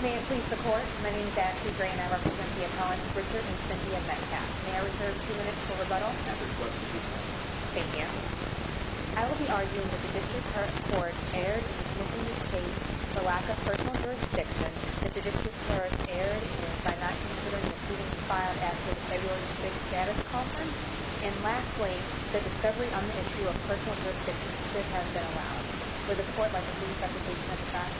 May it please the Court, my name is Ashley Gray and I represent the Apollos Richard and Cyndia Metcalfe. May I reserve two minutes for rebuttal? I will be arguing that the District Court erred in dismissing the case for lack of personal jurisdiction, that the District Court erred by not considering the proceedings filed after the February 6th Status Conference, and lastly, the discovery on the issue of personal jurisdiction should have been allowed. Would the Court like a brief rebuttal at this time?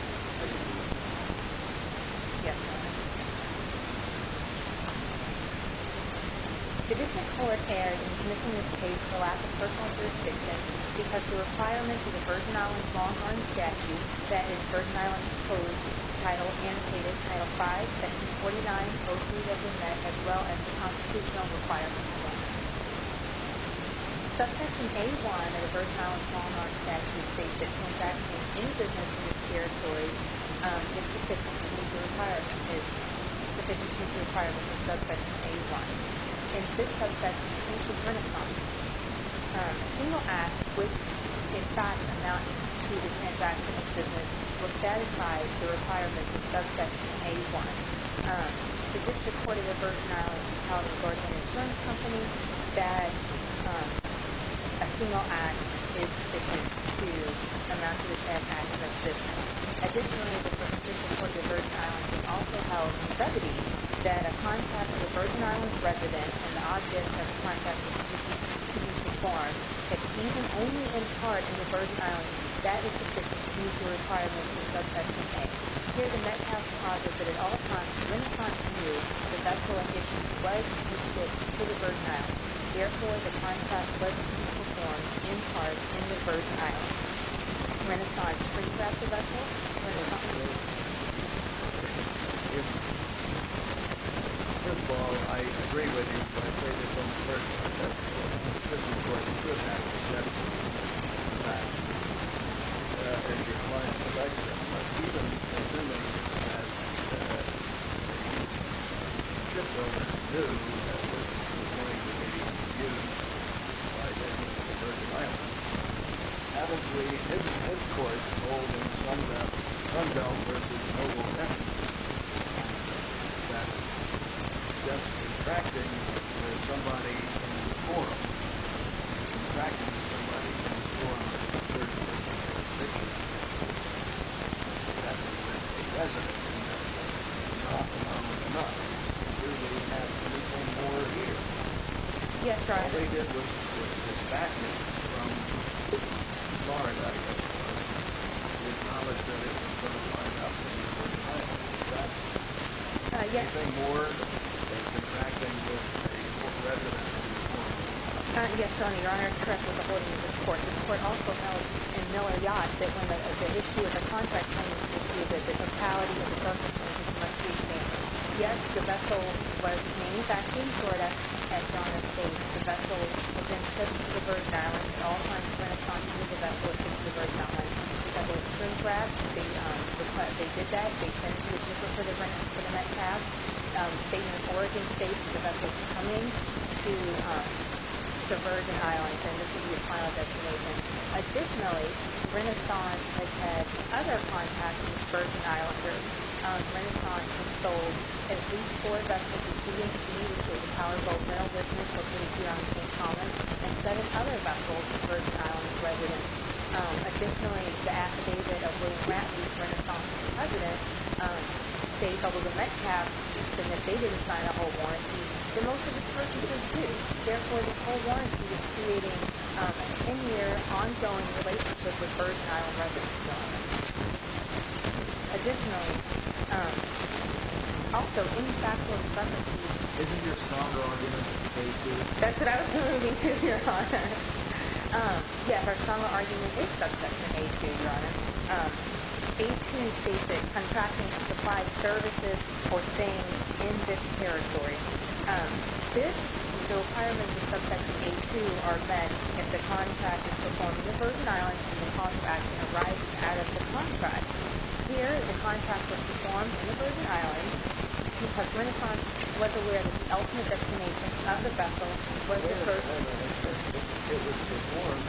The District Court erred in dismissing this case for lack of personal jurisdiction because the requirements of the Virgin Islands Long Island Statute, i.e. Virgin Islands Code, Title 5, Section 49-03-001, as well as the Constitutional Requirements Act. Subsection A-1 of the Virgin Islands Long Island Statute states that transaction in business in this territory is sufficient to meet the requirements of Subsection A-1. In this Subsection A-1, a single act which, in fact, amounts to the transaction of business will satisfy the requirements of Subsection A-1. Additionally, the District Court of the Virgin Islands also held in brevity that a contract with a Virgin Islands resident and the object of the contract was to be performed, that even only in part in the Virgin Islands, that is sufficient to meet the requirements of Subsection A. Here, the net has the positive that at all times, when a contract is used, the vessel of issue was to be shipped to the Virgin Islands. Therefore, the contract was to be performed, in part, in the Virgin Islands. I agree with you, but I say this on the surface, that the District Court should have to check the facts. Perhaps your client would like that, but even assuming that the shipowner knew that it was going to be used by the Virgin Islands, haven't we, in his court, told in Sunbelt v. Noble, Texas, that just contracting with somebody in the forum, contracting with somebody in the forum, would not be considered a breach of jurisdiction, and that a resident in the forum is not anonymous enough to do what he has to do, and more here. What they did was dispatch him from Florida, I guess you might say, with knowledge that he was going to fly out to the Virgin Islands. Anything more than contracting with a resident in the forum? Yes, Your Honor. Your Honor is correct with the holding of this court. This court also held, in Miller v. Yacht, that when the issue of the contract is used, the totality of the subsection must be made. Yes, the vessel was manufactured in Florida, as Your Honor states. The vessel then took to the Virgin Islands. At all times, the Renaissance knew the vessel was taking to the Virgin Islands. They did that. They sent a letter to the Metcalfe, a statement of origin states that the vessel was coming to the Virgin Islands, and this would be its final destination. Additionally, the Renaissance has had other contacts with Virgin Islanders. The Renaissance has sold at least four vessels to the DMV, to a powerful rental business located here on St. Thomas, and seven other vessels to Virgin Islands residents. Additionally, the affidavit of Will Bradley, the Renaissance's president, states, although the Metcalfe states that they didn't sign a whole warranty, that most of its purchases do. Therefore, this whole warranty is creating a ten-year, ongoing relationship with Virgin Island residents, Your Honor. Additionally, also, any factual expungement... Isn't your strong argument that the case is... That's what I was moving to, Your Honor. Yes, our strong argument is subsection A2, Your Honor. A2 states that contracting to supply services or things in this territory. This requirement of subsection A2 are met if the contract is performed in the Virgin Islands, and the contract arrives out of the contract. Here, the contract was performed in the Virgin Islands because Renaissance was aware that the ultimate destination of the vessel was the Virgin Islands. It was performed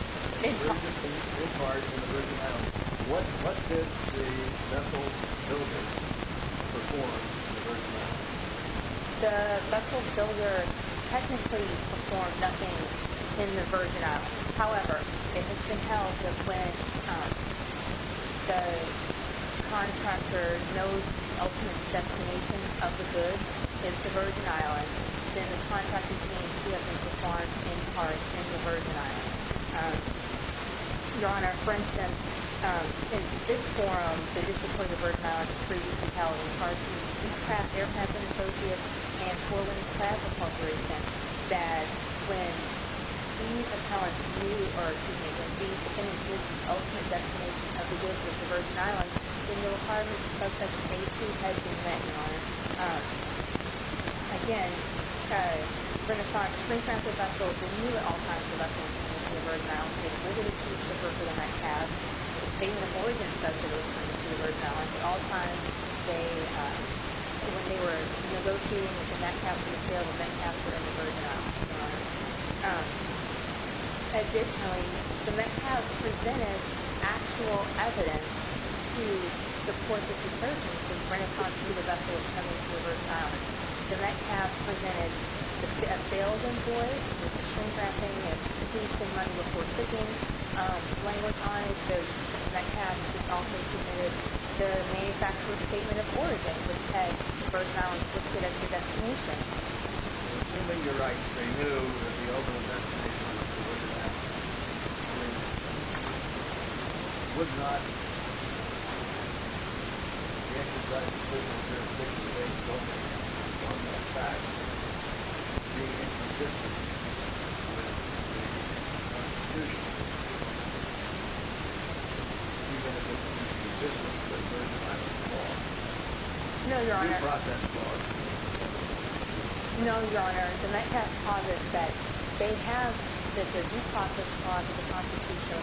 in part in the Virgin Islands. What did the vessel builder perform? The vessel builder technically performed nothing in the Virgin Islands. However, it has been held that when the contractor knows the ultimate destination of the goods is the Virgin Islands, then the contract is being performed in part in the Virgin Islands. Your Honor, for instance, in this forum, the District Court of Virgin Islands has previously touted in part to East Craft Aircraft and Associates and Portland's Craft Corporation, that when these appellants knew, or excuse me, when these defendants knew the ultimate destination of the goods was the Virgin Islands, then the requirement of subsection A2 has been met, Your Honor. Again, Renaissance knew at all times that the vessel was coming to the Virgin Islands. They had litigated to defer for the Metcalfe. The Statement of Origin says that it was coming to the Virgin Islands. At all times, when they were negotiating with the Metcalfe for the sale, the Metcalfe were in the Virgin Islands, Your Honor. Additionally, the Metcalfe presented actual evidence to support this assertion. Renaissance knew the vessel was coming to the Virgin Islands. The Metcalfe presented a sale of employees. The Supreme Court opinion is that he should run reports again. The language on it shows that the Metcalfe also submitted the manufacturer's Statement of Origin, which had the Virgin Islands listed as the destination. Assuming you're right, they knew that the ultimate destination of the goods was the Virgin Islands, they would not exercise the privilege of a 60-day notice on the fact of being inconsistent with the Constitution, even if it was inconsistent with the Virgin Islands Clause, due process clause. No, Your Honor. The Metcalfe posit that they have, that the due process clause of the Constitution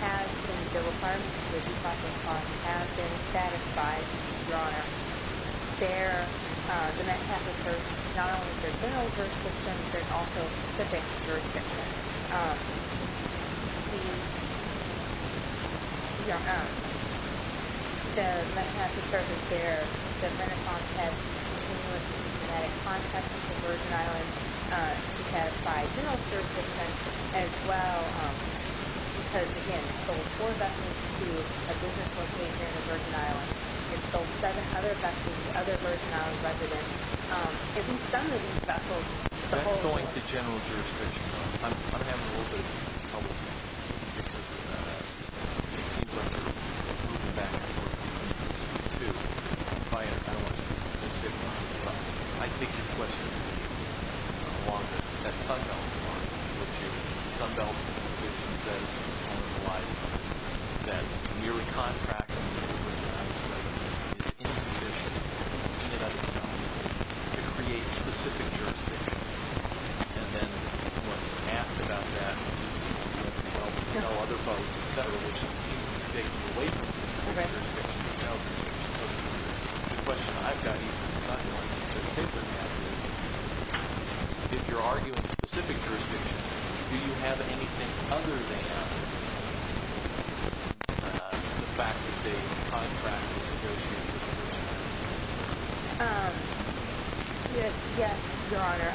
has been, the requirements of the due process clause have been satisfied, Your Honor. There, the Metcalfe asserts not only their general jurisdiction, but also specific jurisdiction. Your Honor, the Metcalfe asserts that there has been a contest, a continuous and systematic contest, with the Virgin Islands to satisfy general jurisdiction as well, because, again, it sold four vessels to a business location in the Virgin Islands. It sold seven other vessels to other Virgin Islands residents. If he's done with these vessels, the whole... I'm having a little bit of trouble here, because it seems like you're moving back and forth between those two, but I don't want to speak specifically to that. I think his question is maybe along that Sunbelt line, which is the Sunbelt decision says, or implies that we recontract the Virgin Islands vessel in addition to the United States, to create specific jurisdiction, and then what's asked about that is, well, we sell other boats, et cetera, which seems to be taking away from the specific jurisdiction. So the question I've got, even besides knowing that the paper has, is if you're arguing specific jurisdiction, do you have anything other than the fact that they contracted the Virgin Islands vessel? Yes, Your Honor.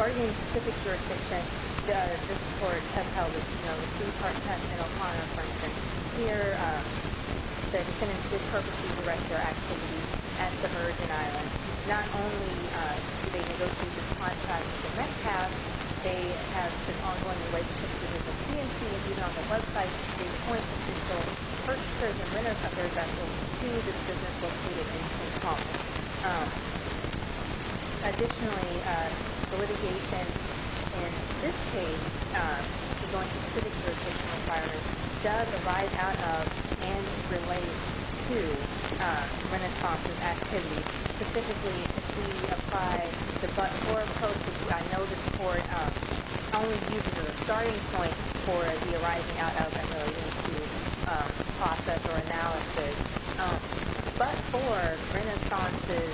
Arguing specific jurisdiction, this Court has held, you know, the Supreme Court test in O'Connor, for instance. Here, the defendant's good purpose to direct their activity at the Virgin Islands. Not only do they negotiate this contract with the Metcalf, they have this ongoing relationship with the business. He and she have even on their website, purchasers and renters of their vessels to this business located in O'Connor. Additionally, the litigation in this case, which is going to specific jurisdiction required, does arrive out of and relate to rent-a-sponsor activity. Specifically, if we apply the but-for approach, I know this Court only used it as a starting point for the arriving out of and relating to process or analysis. But for Renaissance's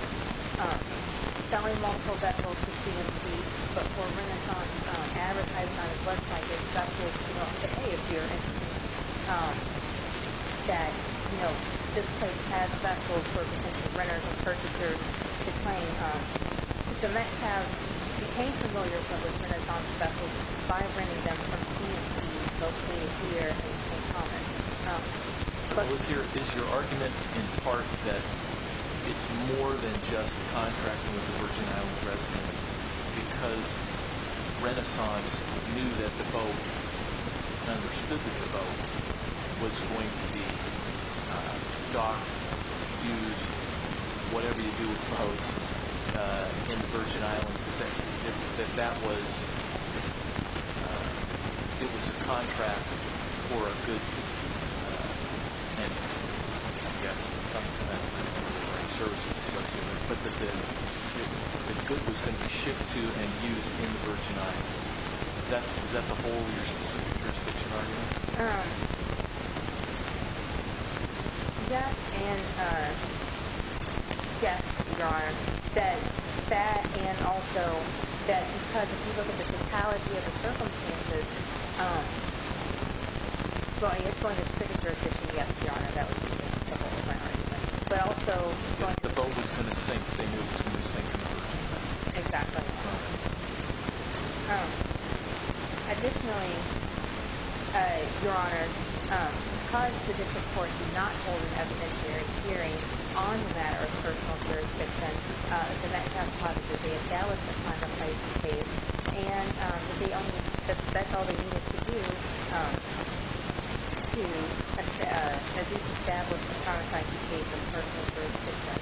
selling multiple vessels to CMC, but for Renaissance advertising on its website, there's vessels to say, hey, if you're interested, that, you know, this place has vessels for potential renters and purchasers to claim. The Metcalfs became familiar with Renaissance's vessels by renting them from CMC located here in O'Connor. Is your argument in part that it's more than just contracting with the Virgin Islands residents because Renaissance knew that the boat, understood that the boat, was going to be docked, used, whatever you do with boats in the Virgin Islands, that that was, it was a contract for a good, and I guess in some sense, services, but that the good was going to be shipped to and used in the Virgin Islands? Is that the whole of your specific jurisdiction argument? Yes, and yes, Your Honor. That and also that because if you look at the totality of the circumstances, well, I guess going to the second jurisdiction, yes, Your Honor, that would be just a whole different argument. But also... If the boat was going to sink, they knew it was going to sink. Exactly. Additionally, Your Honor, because the district court did not hold an evidentiary hearing on the matter of personal jurisdiction, the Metcalfs positively acknowledged the contract by ICK and they only, that's all they needed to do to at least establish the contract by ICK for personal jurisdiction.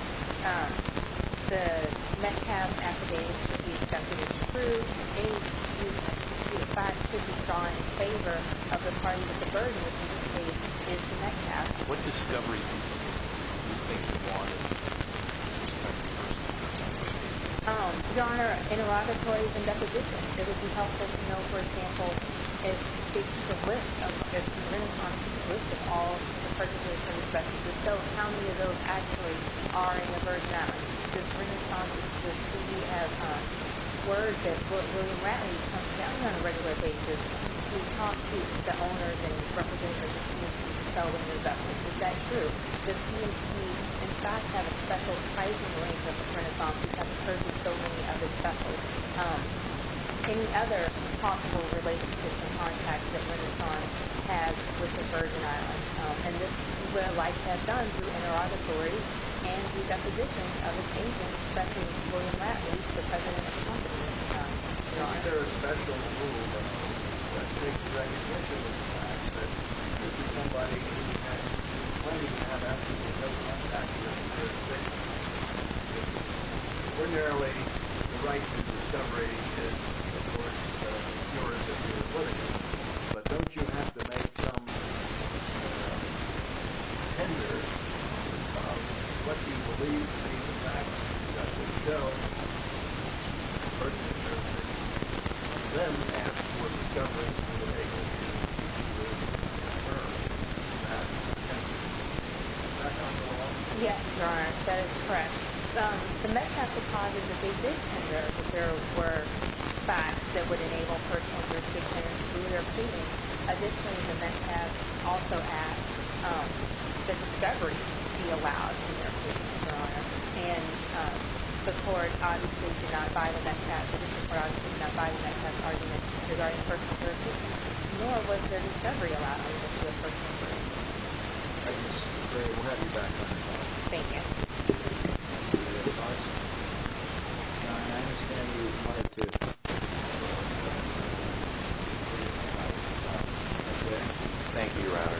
The Metcalfs affidavits should be accepted as true and any disputed facts should be drawn in favor of the parties of the Virgin, which in this case is the Metcalfs. What discovery do you think you wanted? Your Honor, interrogatories and depositions. It would be helpful to know, for example, if the list of the renaissances, the list of all the purchases and expresses, if so, how many of those actually are in the Virgin Islands? We have word that William Ratley comes down on a regular basis to talk to the owners and representatives of CMT to sell the new vessels. Is that true? Does CMT, in fact, have a special pricing range of the Renaissance because it purchases so many other vessels? Any other possible relationships and contacts that Renaissance has with the Virgin Islands? And this is what I'd like to have done through interrogatories and the depositions of its agents, especially William Ratley, the president of CMT. Isn't there a special rule that makes recognition of the fact that this is somebody who has plenty to have absolutely no contact with? Ordinarily, the right to discovery is, of course, yours if you're acquitted. But don't you have to make some tender of what you believe to be the facts that would show that the person is your acquitted? And then ask for discovery to enable you to prove that the person is your acquitted. Is that kind of law? Yes, Your Honor, that is correct. The Metcalfe Supplies is a big, big tender, but there were facts that would enable personal jurisdiction to be your acquitted. Additionally, the Metcalfe also asked that discovery be allowed in your acquittal, Your Honor. And the court obviously did not buy the Metcalfe's argument regarding personal jurisdiction, nor was their discovery allowed as to a personal jurisdiction. Thank you, Ms. McRae. We'll have you back. Thank you. Thank you. Thank you, Your Honor. Your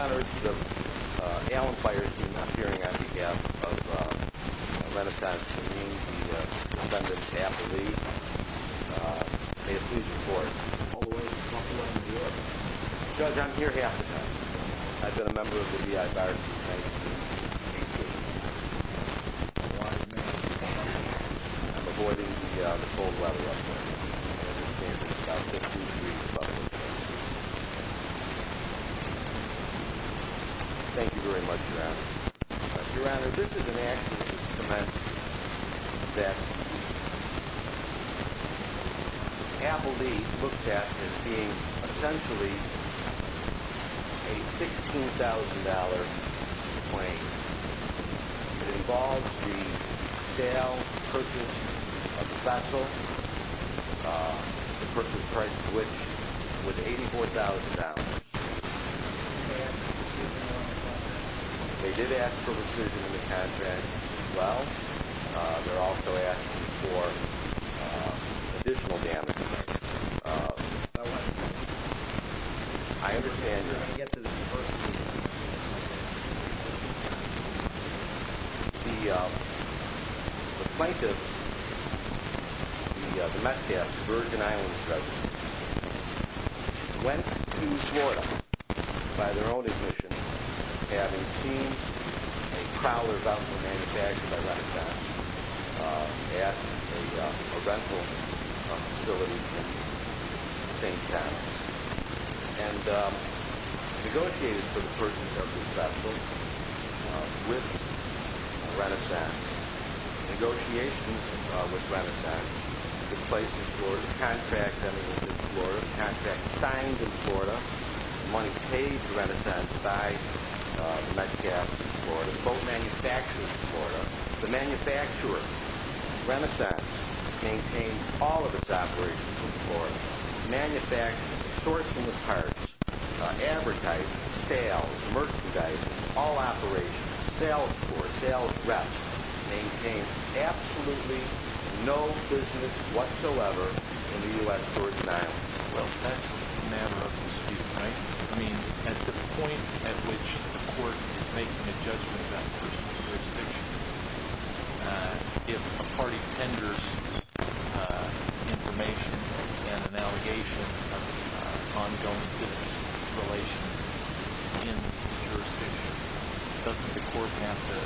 Honor, it's Alan Pierson appearing on behalf of the Metaconstituency and the defendant's affiliate. May it please the court. Judge, I'm here half the time. I've been a member of the EI Fire and Rescue Team. I'm avoiding the cold weather up here. Thank you very much, Your Honor. Your Honor, this is an action to cement that Appleby looks at as being essentially a $16,000 claim. It involves the sale, purchase of the vessel, the purchase price of which was $84,000. And they did ask for rescission in the contract as well. They're also asking for additional damages. The plaintiff, the Metcalfe's Virgin Islands resident, went to Florida by their own admission, having seen a Prowler Vessel manufactured by Renaton at a rental facility in St. Towns and negotiated for the purchase of this vessel with Renasant. Negotiations with Renasant took place in Florida. The contract that was issued in Florida, the contract signed in Florida, the money paid to Renasant by the Metcalfe in Florida, the boat manufactured in Florida, the manufacturer, Renasant, maintained all of its operations in Florida, manufacturing, sourcing the parts, advertising, sales, merchandising, all operations, sales force, sales reps, maintained absolutely no business whatsoever in the U.S. Virgin Islands. Well, that's a matter of dispute, right? I mean, at the point at which the court is making a judgment on personal jurisdiction, if a party tenders information and an allegation of ongoing business relations in the jurisdiction, doesn't the court have to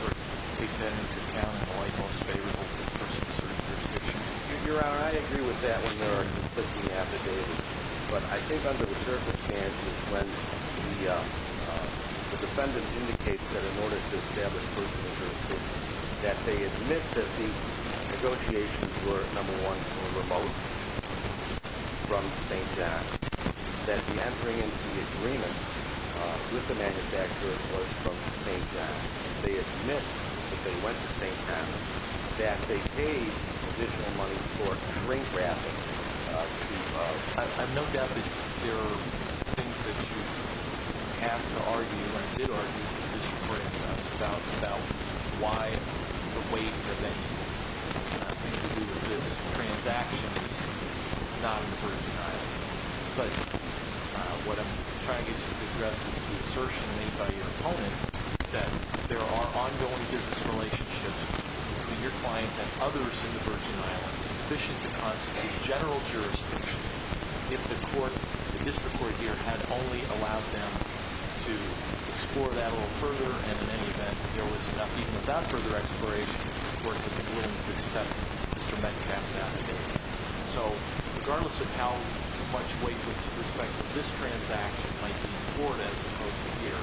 sort of take that into account in the light most favorable to the person's jurisdiction? Your Honor, I agree with that when you're looking at the data, but I think under the circumstances when the defendant indicates that in order to establish personal jurisdiction, that they admit that the negotiations were, number one, remote from St. John, that the entering into the agreement with the manufacturer was from St. John, they admit that they went to St. John, that they paid additional money for drink-wrapping. I've no doubt that there are things that you have to argue or did argue with the Supreme Court in the past about why the weight of any of these transactions is not in the Virgin Islands. But what I'm trying to get you to address is the assertion made by your opponent that there are ongoing business relationships between your client and others in the Virgin Islands sufficient to constitute general jurisdiction if the court, the district court here, had only allowed them to explore that a little further, and in any event, there was enough even without further exploration for him to be willing to accept Mr. Metcalf's allegation. So regardless of how much weight with respect to this transaction might be in Florida as opposed to here,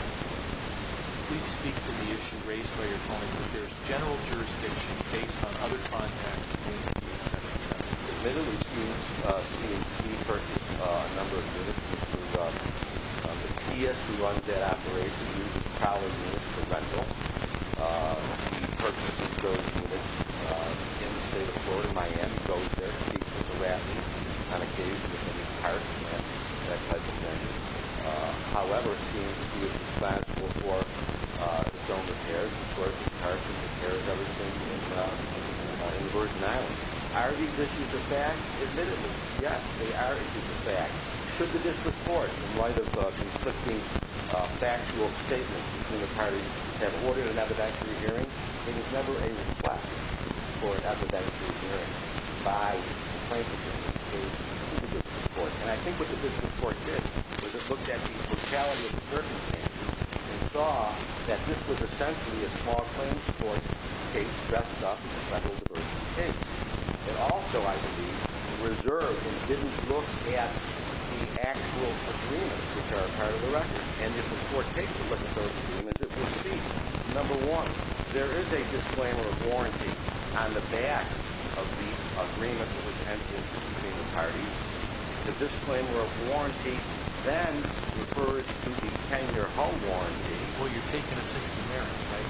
please speak to the issue raised by your opponent that there is general jurisdiction based on other contexts. Admittedly, since we purchased a number of units from the TS who runs that operation, we purchased those units in the state of Florida, Miami, Philadelphia, the Rapids, Convocation, and the parks and that type of thing. However, since we are responsible for the drone repairs, of course, the parks and the care of everything in the Virgin Islands, are these issues a fact? Admittedly, yes, they are issues of fact. Should the district court, in light of conflicting factual statements between the parties that ordered an evidentiary hearing, it is never a request for an evidentiary hearing by the plaintiff in this case to the district court. And I think what the district court did was it looked at the brutality of the circumstances and saw that this was essentially a small claims court case dressed up as a federal jurisdiction case. It also, I believe, reserved and didn't look at the actual agreements which are a part of the record. And if the court takes a look at those agreements, it will see, number one, there is a disclaimer of warranty on the back of the agreement that was entered between the parties. The disclaimer of warranty then refers to the tender home warranty. Well, you're taking us into merit, right?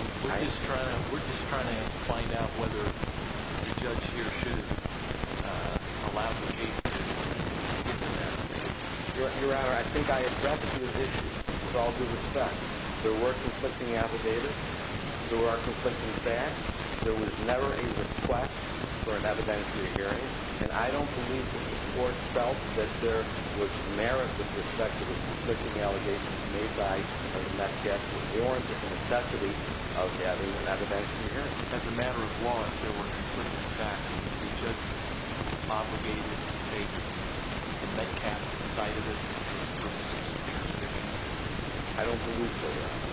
We're just trying to find out whether the judge here should allow the case to be investigated. Your Honor, I think I addressed these issues with all due respect. There were conflicting allegations. There were conflicting facts. There was never a request for an evidentiary hearing. And I don't believe that the court felt that there was merit with respect to the conflicting allegations made by the Metcalfe. It was warranted the necessity of having an evidentiary hearing. As a matter of law, if there were conflicting facts, the judge was obligated to take the Metcalfe's side of it for purposes of jurisdiction. I don't believe so, Your Honor.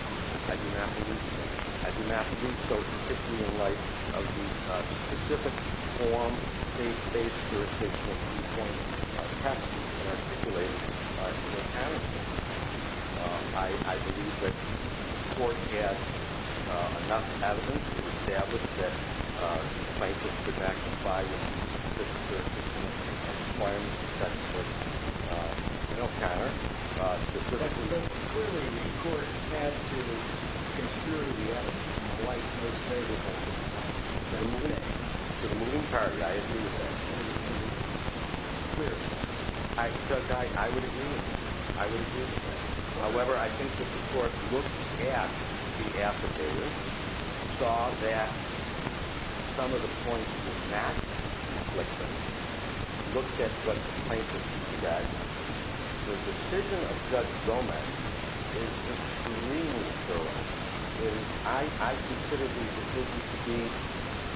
I do not believe so. I do not believe so, particularly in light of the specific form they faced jurisdictionally. It has to be articulated in a panel. I believe that the court had enough evidence to establish that the plaintiff could not comply with the jurisdiction requirements set forth in the panel specifically. Your Honor, I believe that clearly the court had to consider the actions of the plaintiff in favor of the plaintiff. In the entirety, I agree with that. Clearly. Judge, I would agree with that. I would agree with that. However, I think that the court looked at the affidavit, saw that some of the points did not conflict with it, looked at what the plaintiff said. The decision of Judge Gomez is extremely thorough. I consider the decision to be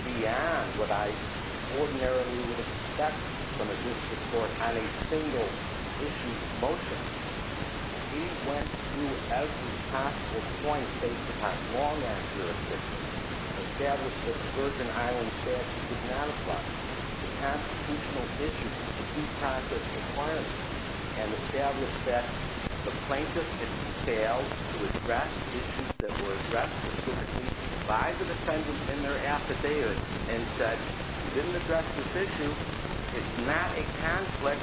beyond what I ordinarily would expect from a judicial court on a single issue of motion. He went through every possible point that he could find wrong on jurisdiction. He established that the Virgin Islands statute did not apply to constitutional issues of due process requirements and established that the plaintiff had failed to address issues that were addressed specifically by the defendant in their affidavit and said, you didn't address this issue. It's not a conflict.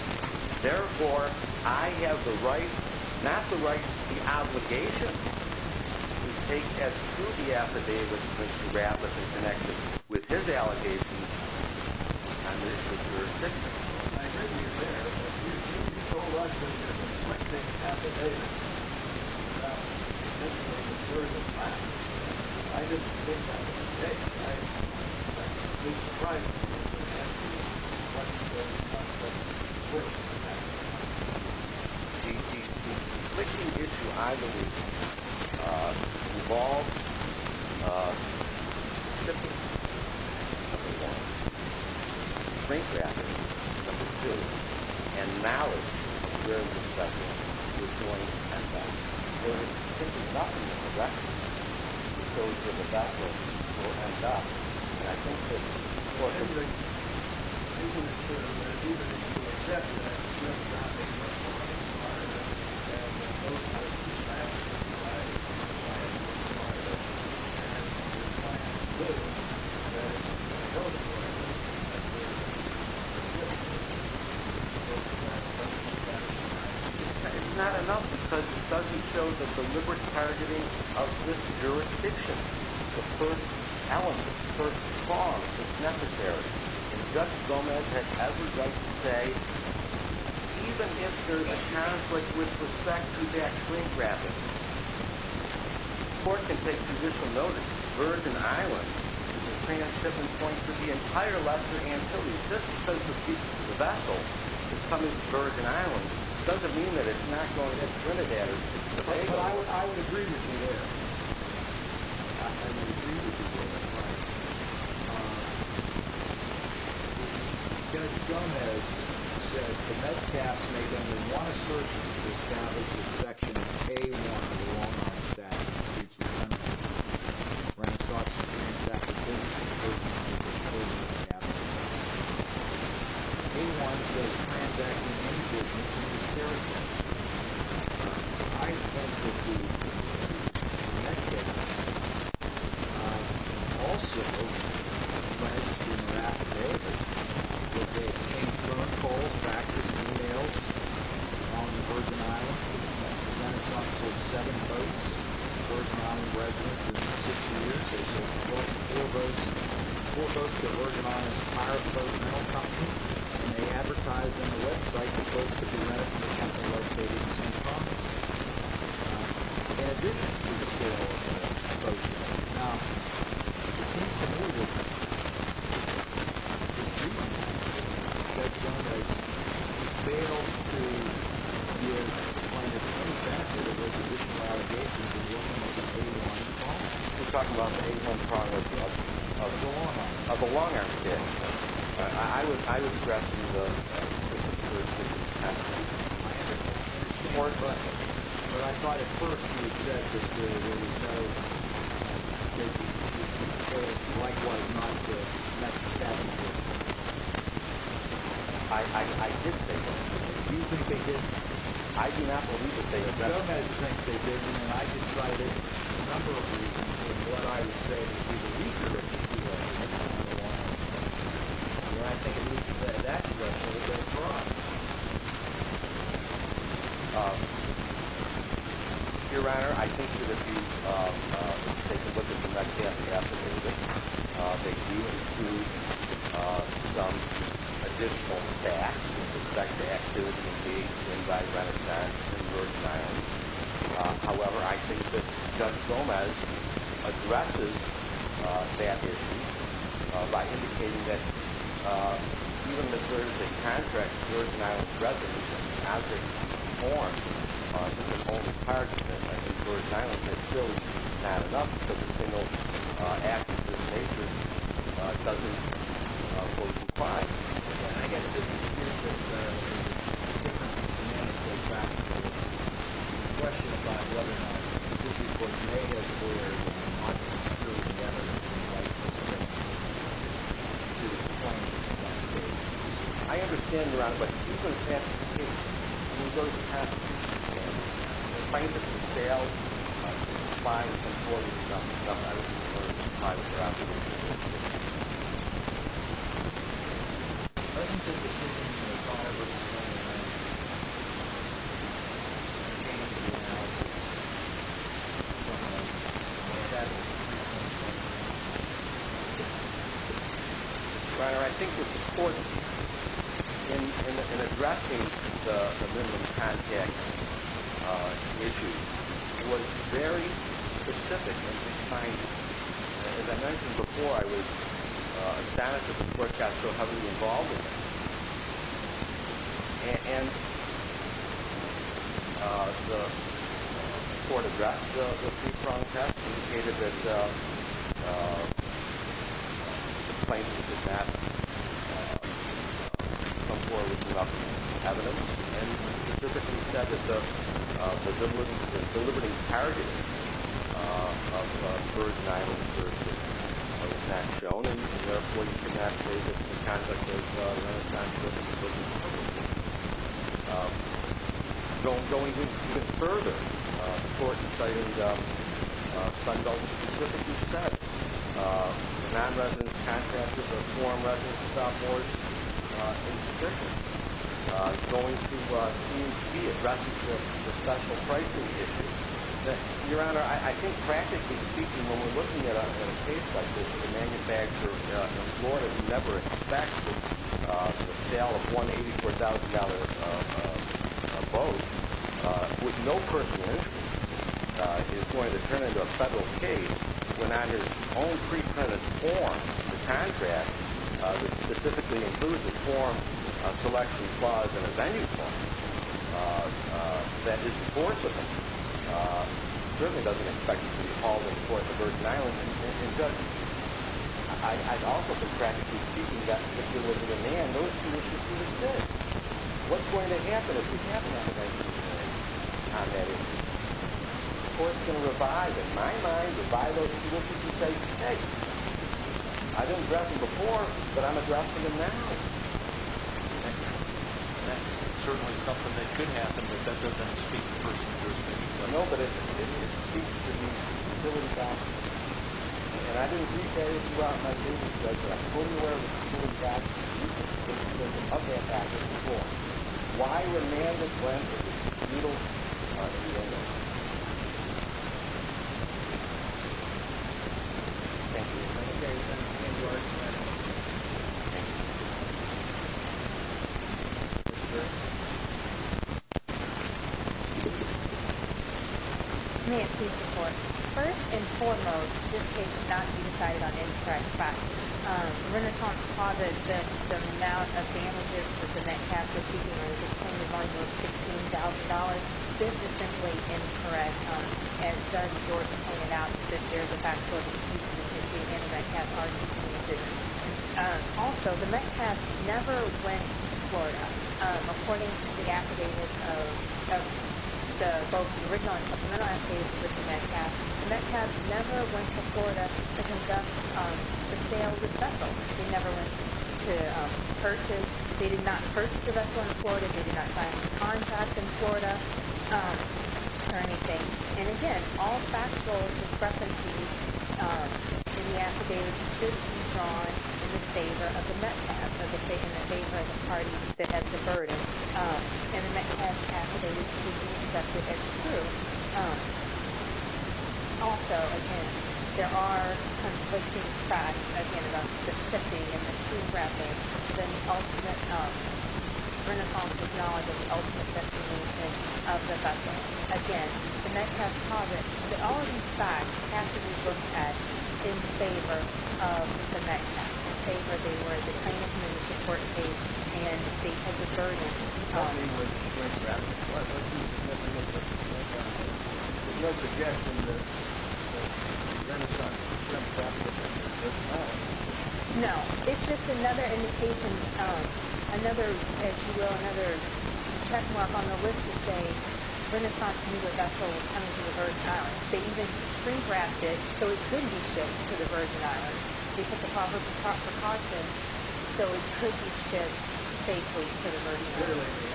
Therefore, I have the right, not the right, the obligation to take as to the affidavit, Mr. Radliff in connection with his allegations on this jurisdiction. I heard you there. You told us that the plaintiff's affidavit did not conflict with the Virgin Islands. I didn't think that was a mistake. Mr. Price. The glitching issue, I believe, involves the shifting of the law. The plaintiff's affidavit, number two, and the malice of the judge's affidavit, there is simply not enough direction to go to the back of the court and stop. And I think that, for everything, even if you do accept that it's not in the court of requirement, that most of the facts that you provide are in the court of requirement, and you're trying to prove that those facts are in the court of requirement, you're trying to prove that those facts are in the court of requirement. It's not enough because it doesn't show the deliberate targeting of this jurisdiction, and Judge Gomez has every right to say, even if there's a conflict with respect to that plaintiff's affidavit, the court can take judicial notice that the Virgin Islands is a trans-shipping point for the entire Lesser Antilles just because the vessel is coming to the Virgin Islands. It doesn't mean that it's not going to Trinidad. I would agree with you there. Judge Gomez said, The Metcalfe made under one assertion to establish that Section A-1 of the Wal-Mart statute was a breach of common law, when it sought to transact with business in the Virgin Islands. Section A-1 says, Transacting with any business in this area is a breach of common law. I think that the use of the Metcalfe Also, a question that I have is, that they exchange phone calls, faxes, and e-mails on the Virgin Islands, and that is up to seven votes. The Virgin Islands resident, for 60 years, they've sold more than four votes. Four votes to Virgin Islands, a higher-profile metal company, and they advertise on the website that folks could be rented from the company's website at the same time. In addition to the sale of the Metcalfe, now, it seems to me that this breach, that Judge Gomez fails to give plaintiffs feedback that there's additional allegations of what might have been a wrong call. You're talking about the A-1 product, yes? Of the Wal-Mart. Of the Wal-Mart, yes. I would address the issue. I understand. But I thought at first you said that there was no likewise not the Metcalfe. I didn't say that. Do you think they did? I do not believe that they did. I decided a number of reasons what I would say would be the weaker issue of the Metcalfe. And I think at least that that's what we're going to draw. Your Honor, I think that if you take a look at the Metcalfe affidavit, they do include some additional facts with respect to activities being done by Renaissance and Georgetown. However, I think that Judge Gomez addresses that issue by indicating that even the courtesy contracts of Georgian Island residents have been formed with the Home Department in Georgian Island. It's still not enough for the single act of this nature doesn't qualify. And I guess if you see it that way, the question about whether this is what may have or could have been I understand, Your Honor, but you're going to have to take you're going to have to take the plaintiff's bail by supporting some other private property. I think the decision was made by a representative of the Home Department and it came to the House in front of the Senate. Your Honor, I think that the court in addressing the minimum contract issue was very specific in defining it. As I mentioned before, I was astonished that the court got so heavily involved in that. And the court addressed the pre-fraud test and indicated that the plaintiff did not come forward with enough evidence and specifically said that the deliberate targeting of Georgian Island was not shown. And therefore, you cannot say that the conduct of non-residents was appropriate. Going even further, the court decided, Sunbelt specifically said that non-residents, contractors, or foreign residents without more insubstantial going to C&C addresses the special pricing issue. Your Honor, I think practically speaking, when we're looking at a case like this, the manufacturer in Florida never expects the sale of $184,000 boat with no personal interest is going to turn into a federal case when on his own pre-printed form, the contract that specifically includes a form, a selection clause, and a venue clause that is forcible certainly doesn't expect to be called in for the Georgian Islands and doesn't. I've also been practically speaking, if you look at the man, those two issues are the same. What's going to happen if we have an affidavit on that issue? The court's going to revive it. In my mind, revive those two issues and say, hey, I've addressed them before, but I'm addressing them now. And that's certainly something that could happen, but that doesn't speak to personal jurisdiction. Well, no, but it speaks to the ability of Congress. And I didn't read that issue out in my business, but I'm fully aware of the impact of that action before. Why would a man that went with the feudal party ever do that? Thank you. Thank you very much. Thank you. Thank you, sir. Thank you. Thank you. May it please the court. First and foremost, this case should not be decided on incorrect by Renaissance Plaza that the amount of damages that the Metcalfs are seeking is $16,000. This is simply incorrect as Judge Jordan pointed out that there's a factual excuse in the Metcalfs' RCP decision. Also, the Metcalfs never went to Florida. According to the affidavits of both the original and supplemental affidavits with the Metcalfs, the Metcalfs never went to Florida to conduct the sale of this vessel. They never went to purchase. They did not purchase the vessel in Florida. They did not sign any contracts in Florida or anything. And again, all factual discrepancies in the affidavits should be drawn in favor of the Metcalfs or in favor of the party that has the burden. And the Metcalfs affidavits should be accepted as true. Also, again, there are conflicting facts about the shipping and the crew grabbing and the ultimate Renaissance technology, the ultimate destination of the vessel. Again, the Metcalfs have it. All of these facts have to be looked at in favor of the Metcalfs. It's just another indication of another, as you know, another check mark on the list to say Renaissance New Year vessel is coming to the Virgin Islands. They even pre-grabbed it so it could be shipped and they took the property property and they took the property property and they took the property property and they took the property property so it could be shipped safely to the Virgin Islands.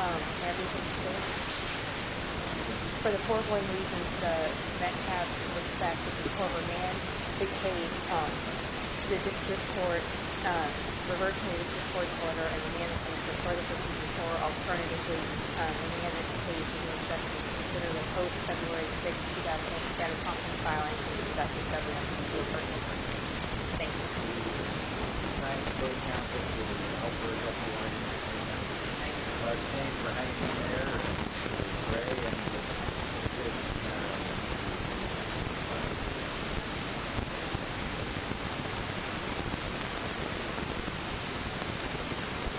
For the Portland reasons, the Metcalfs, in respect to the former man, became, the district court reversed his report order and the man was reported for alternatively, the man is to be expected to be considered in hope February 6th, 2008. Status on the filing is that discovery of the new Virgin Islands. Thank you. Thank you. Thank you. Thank you. Thank you. Thank you. Thank you. Thank you. Thank you.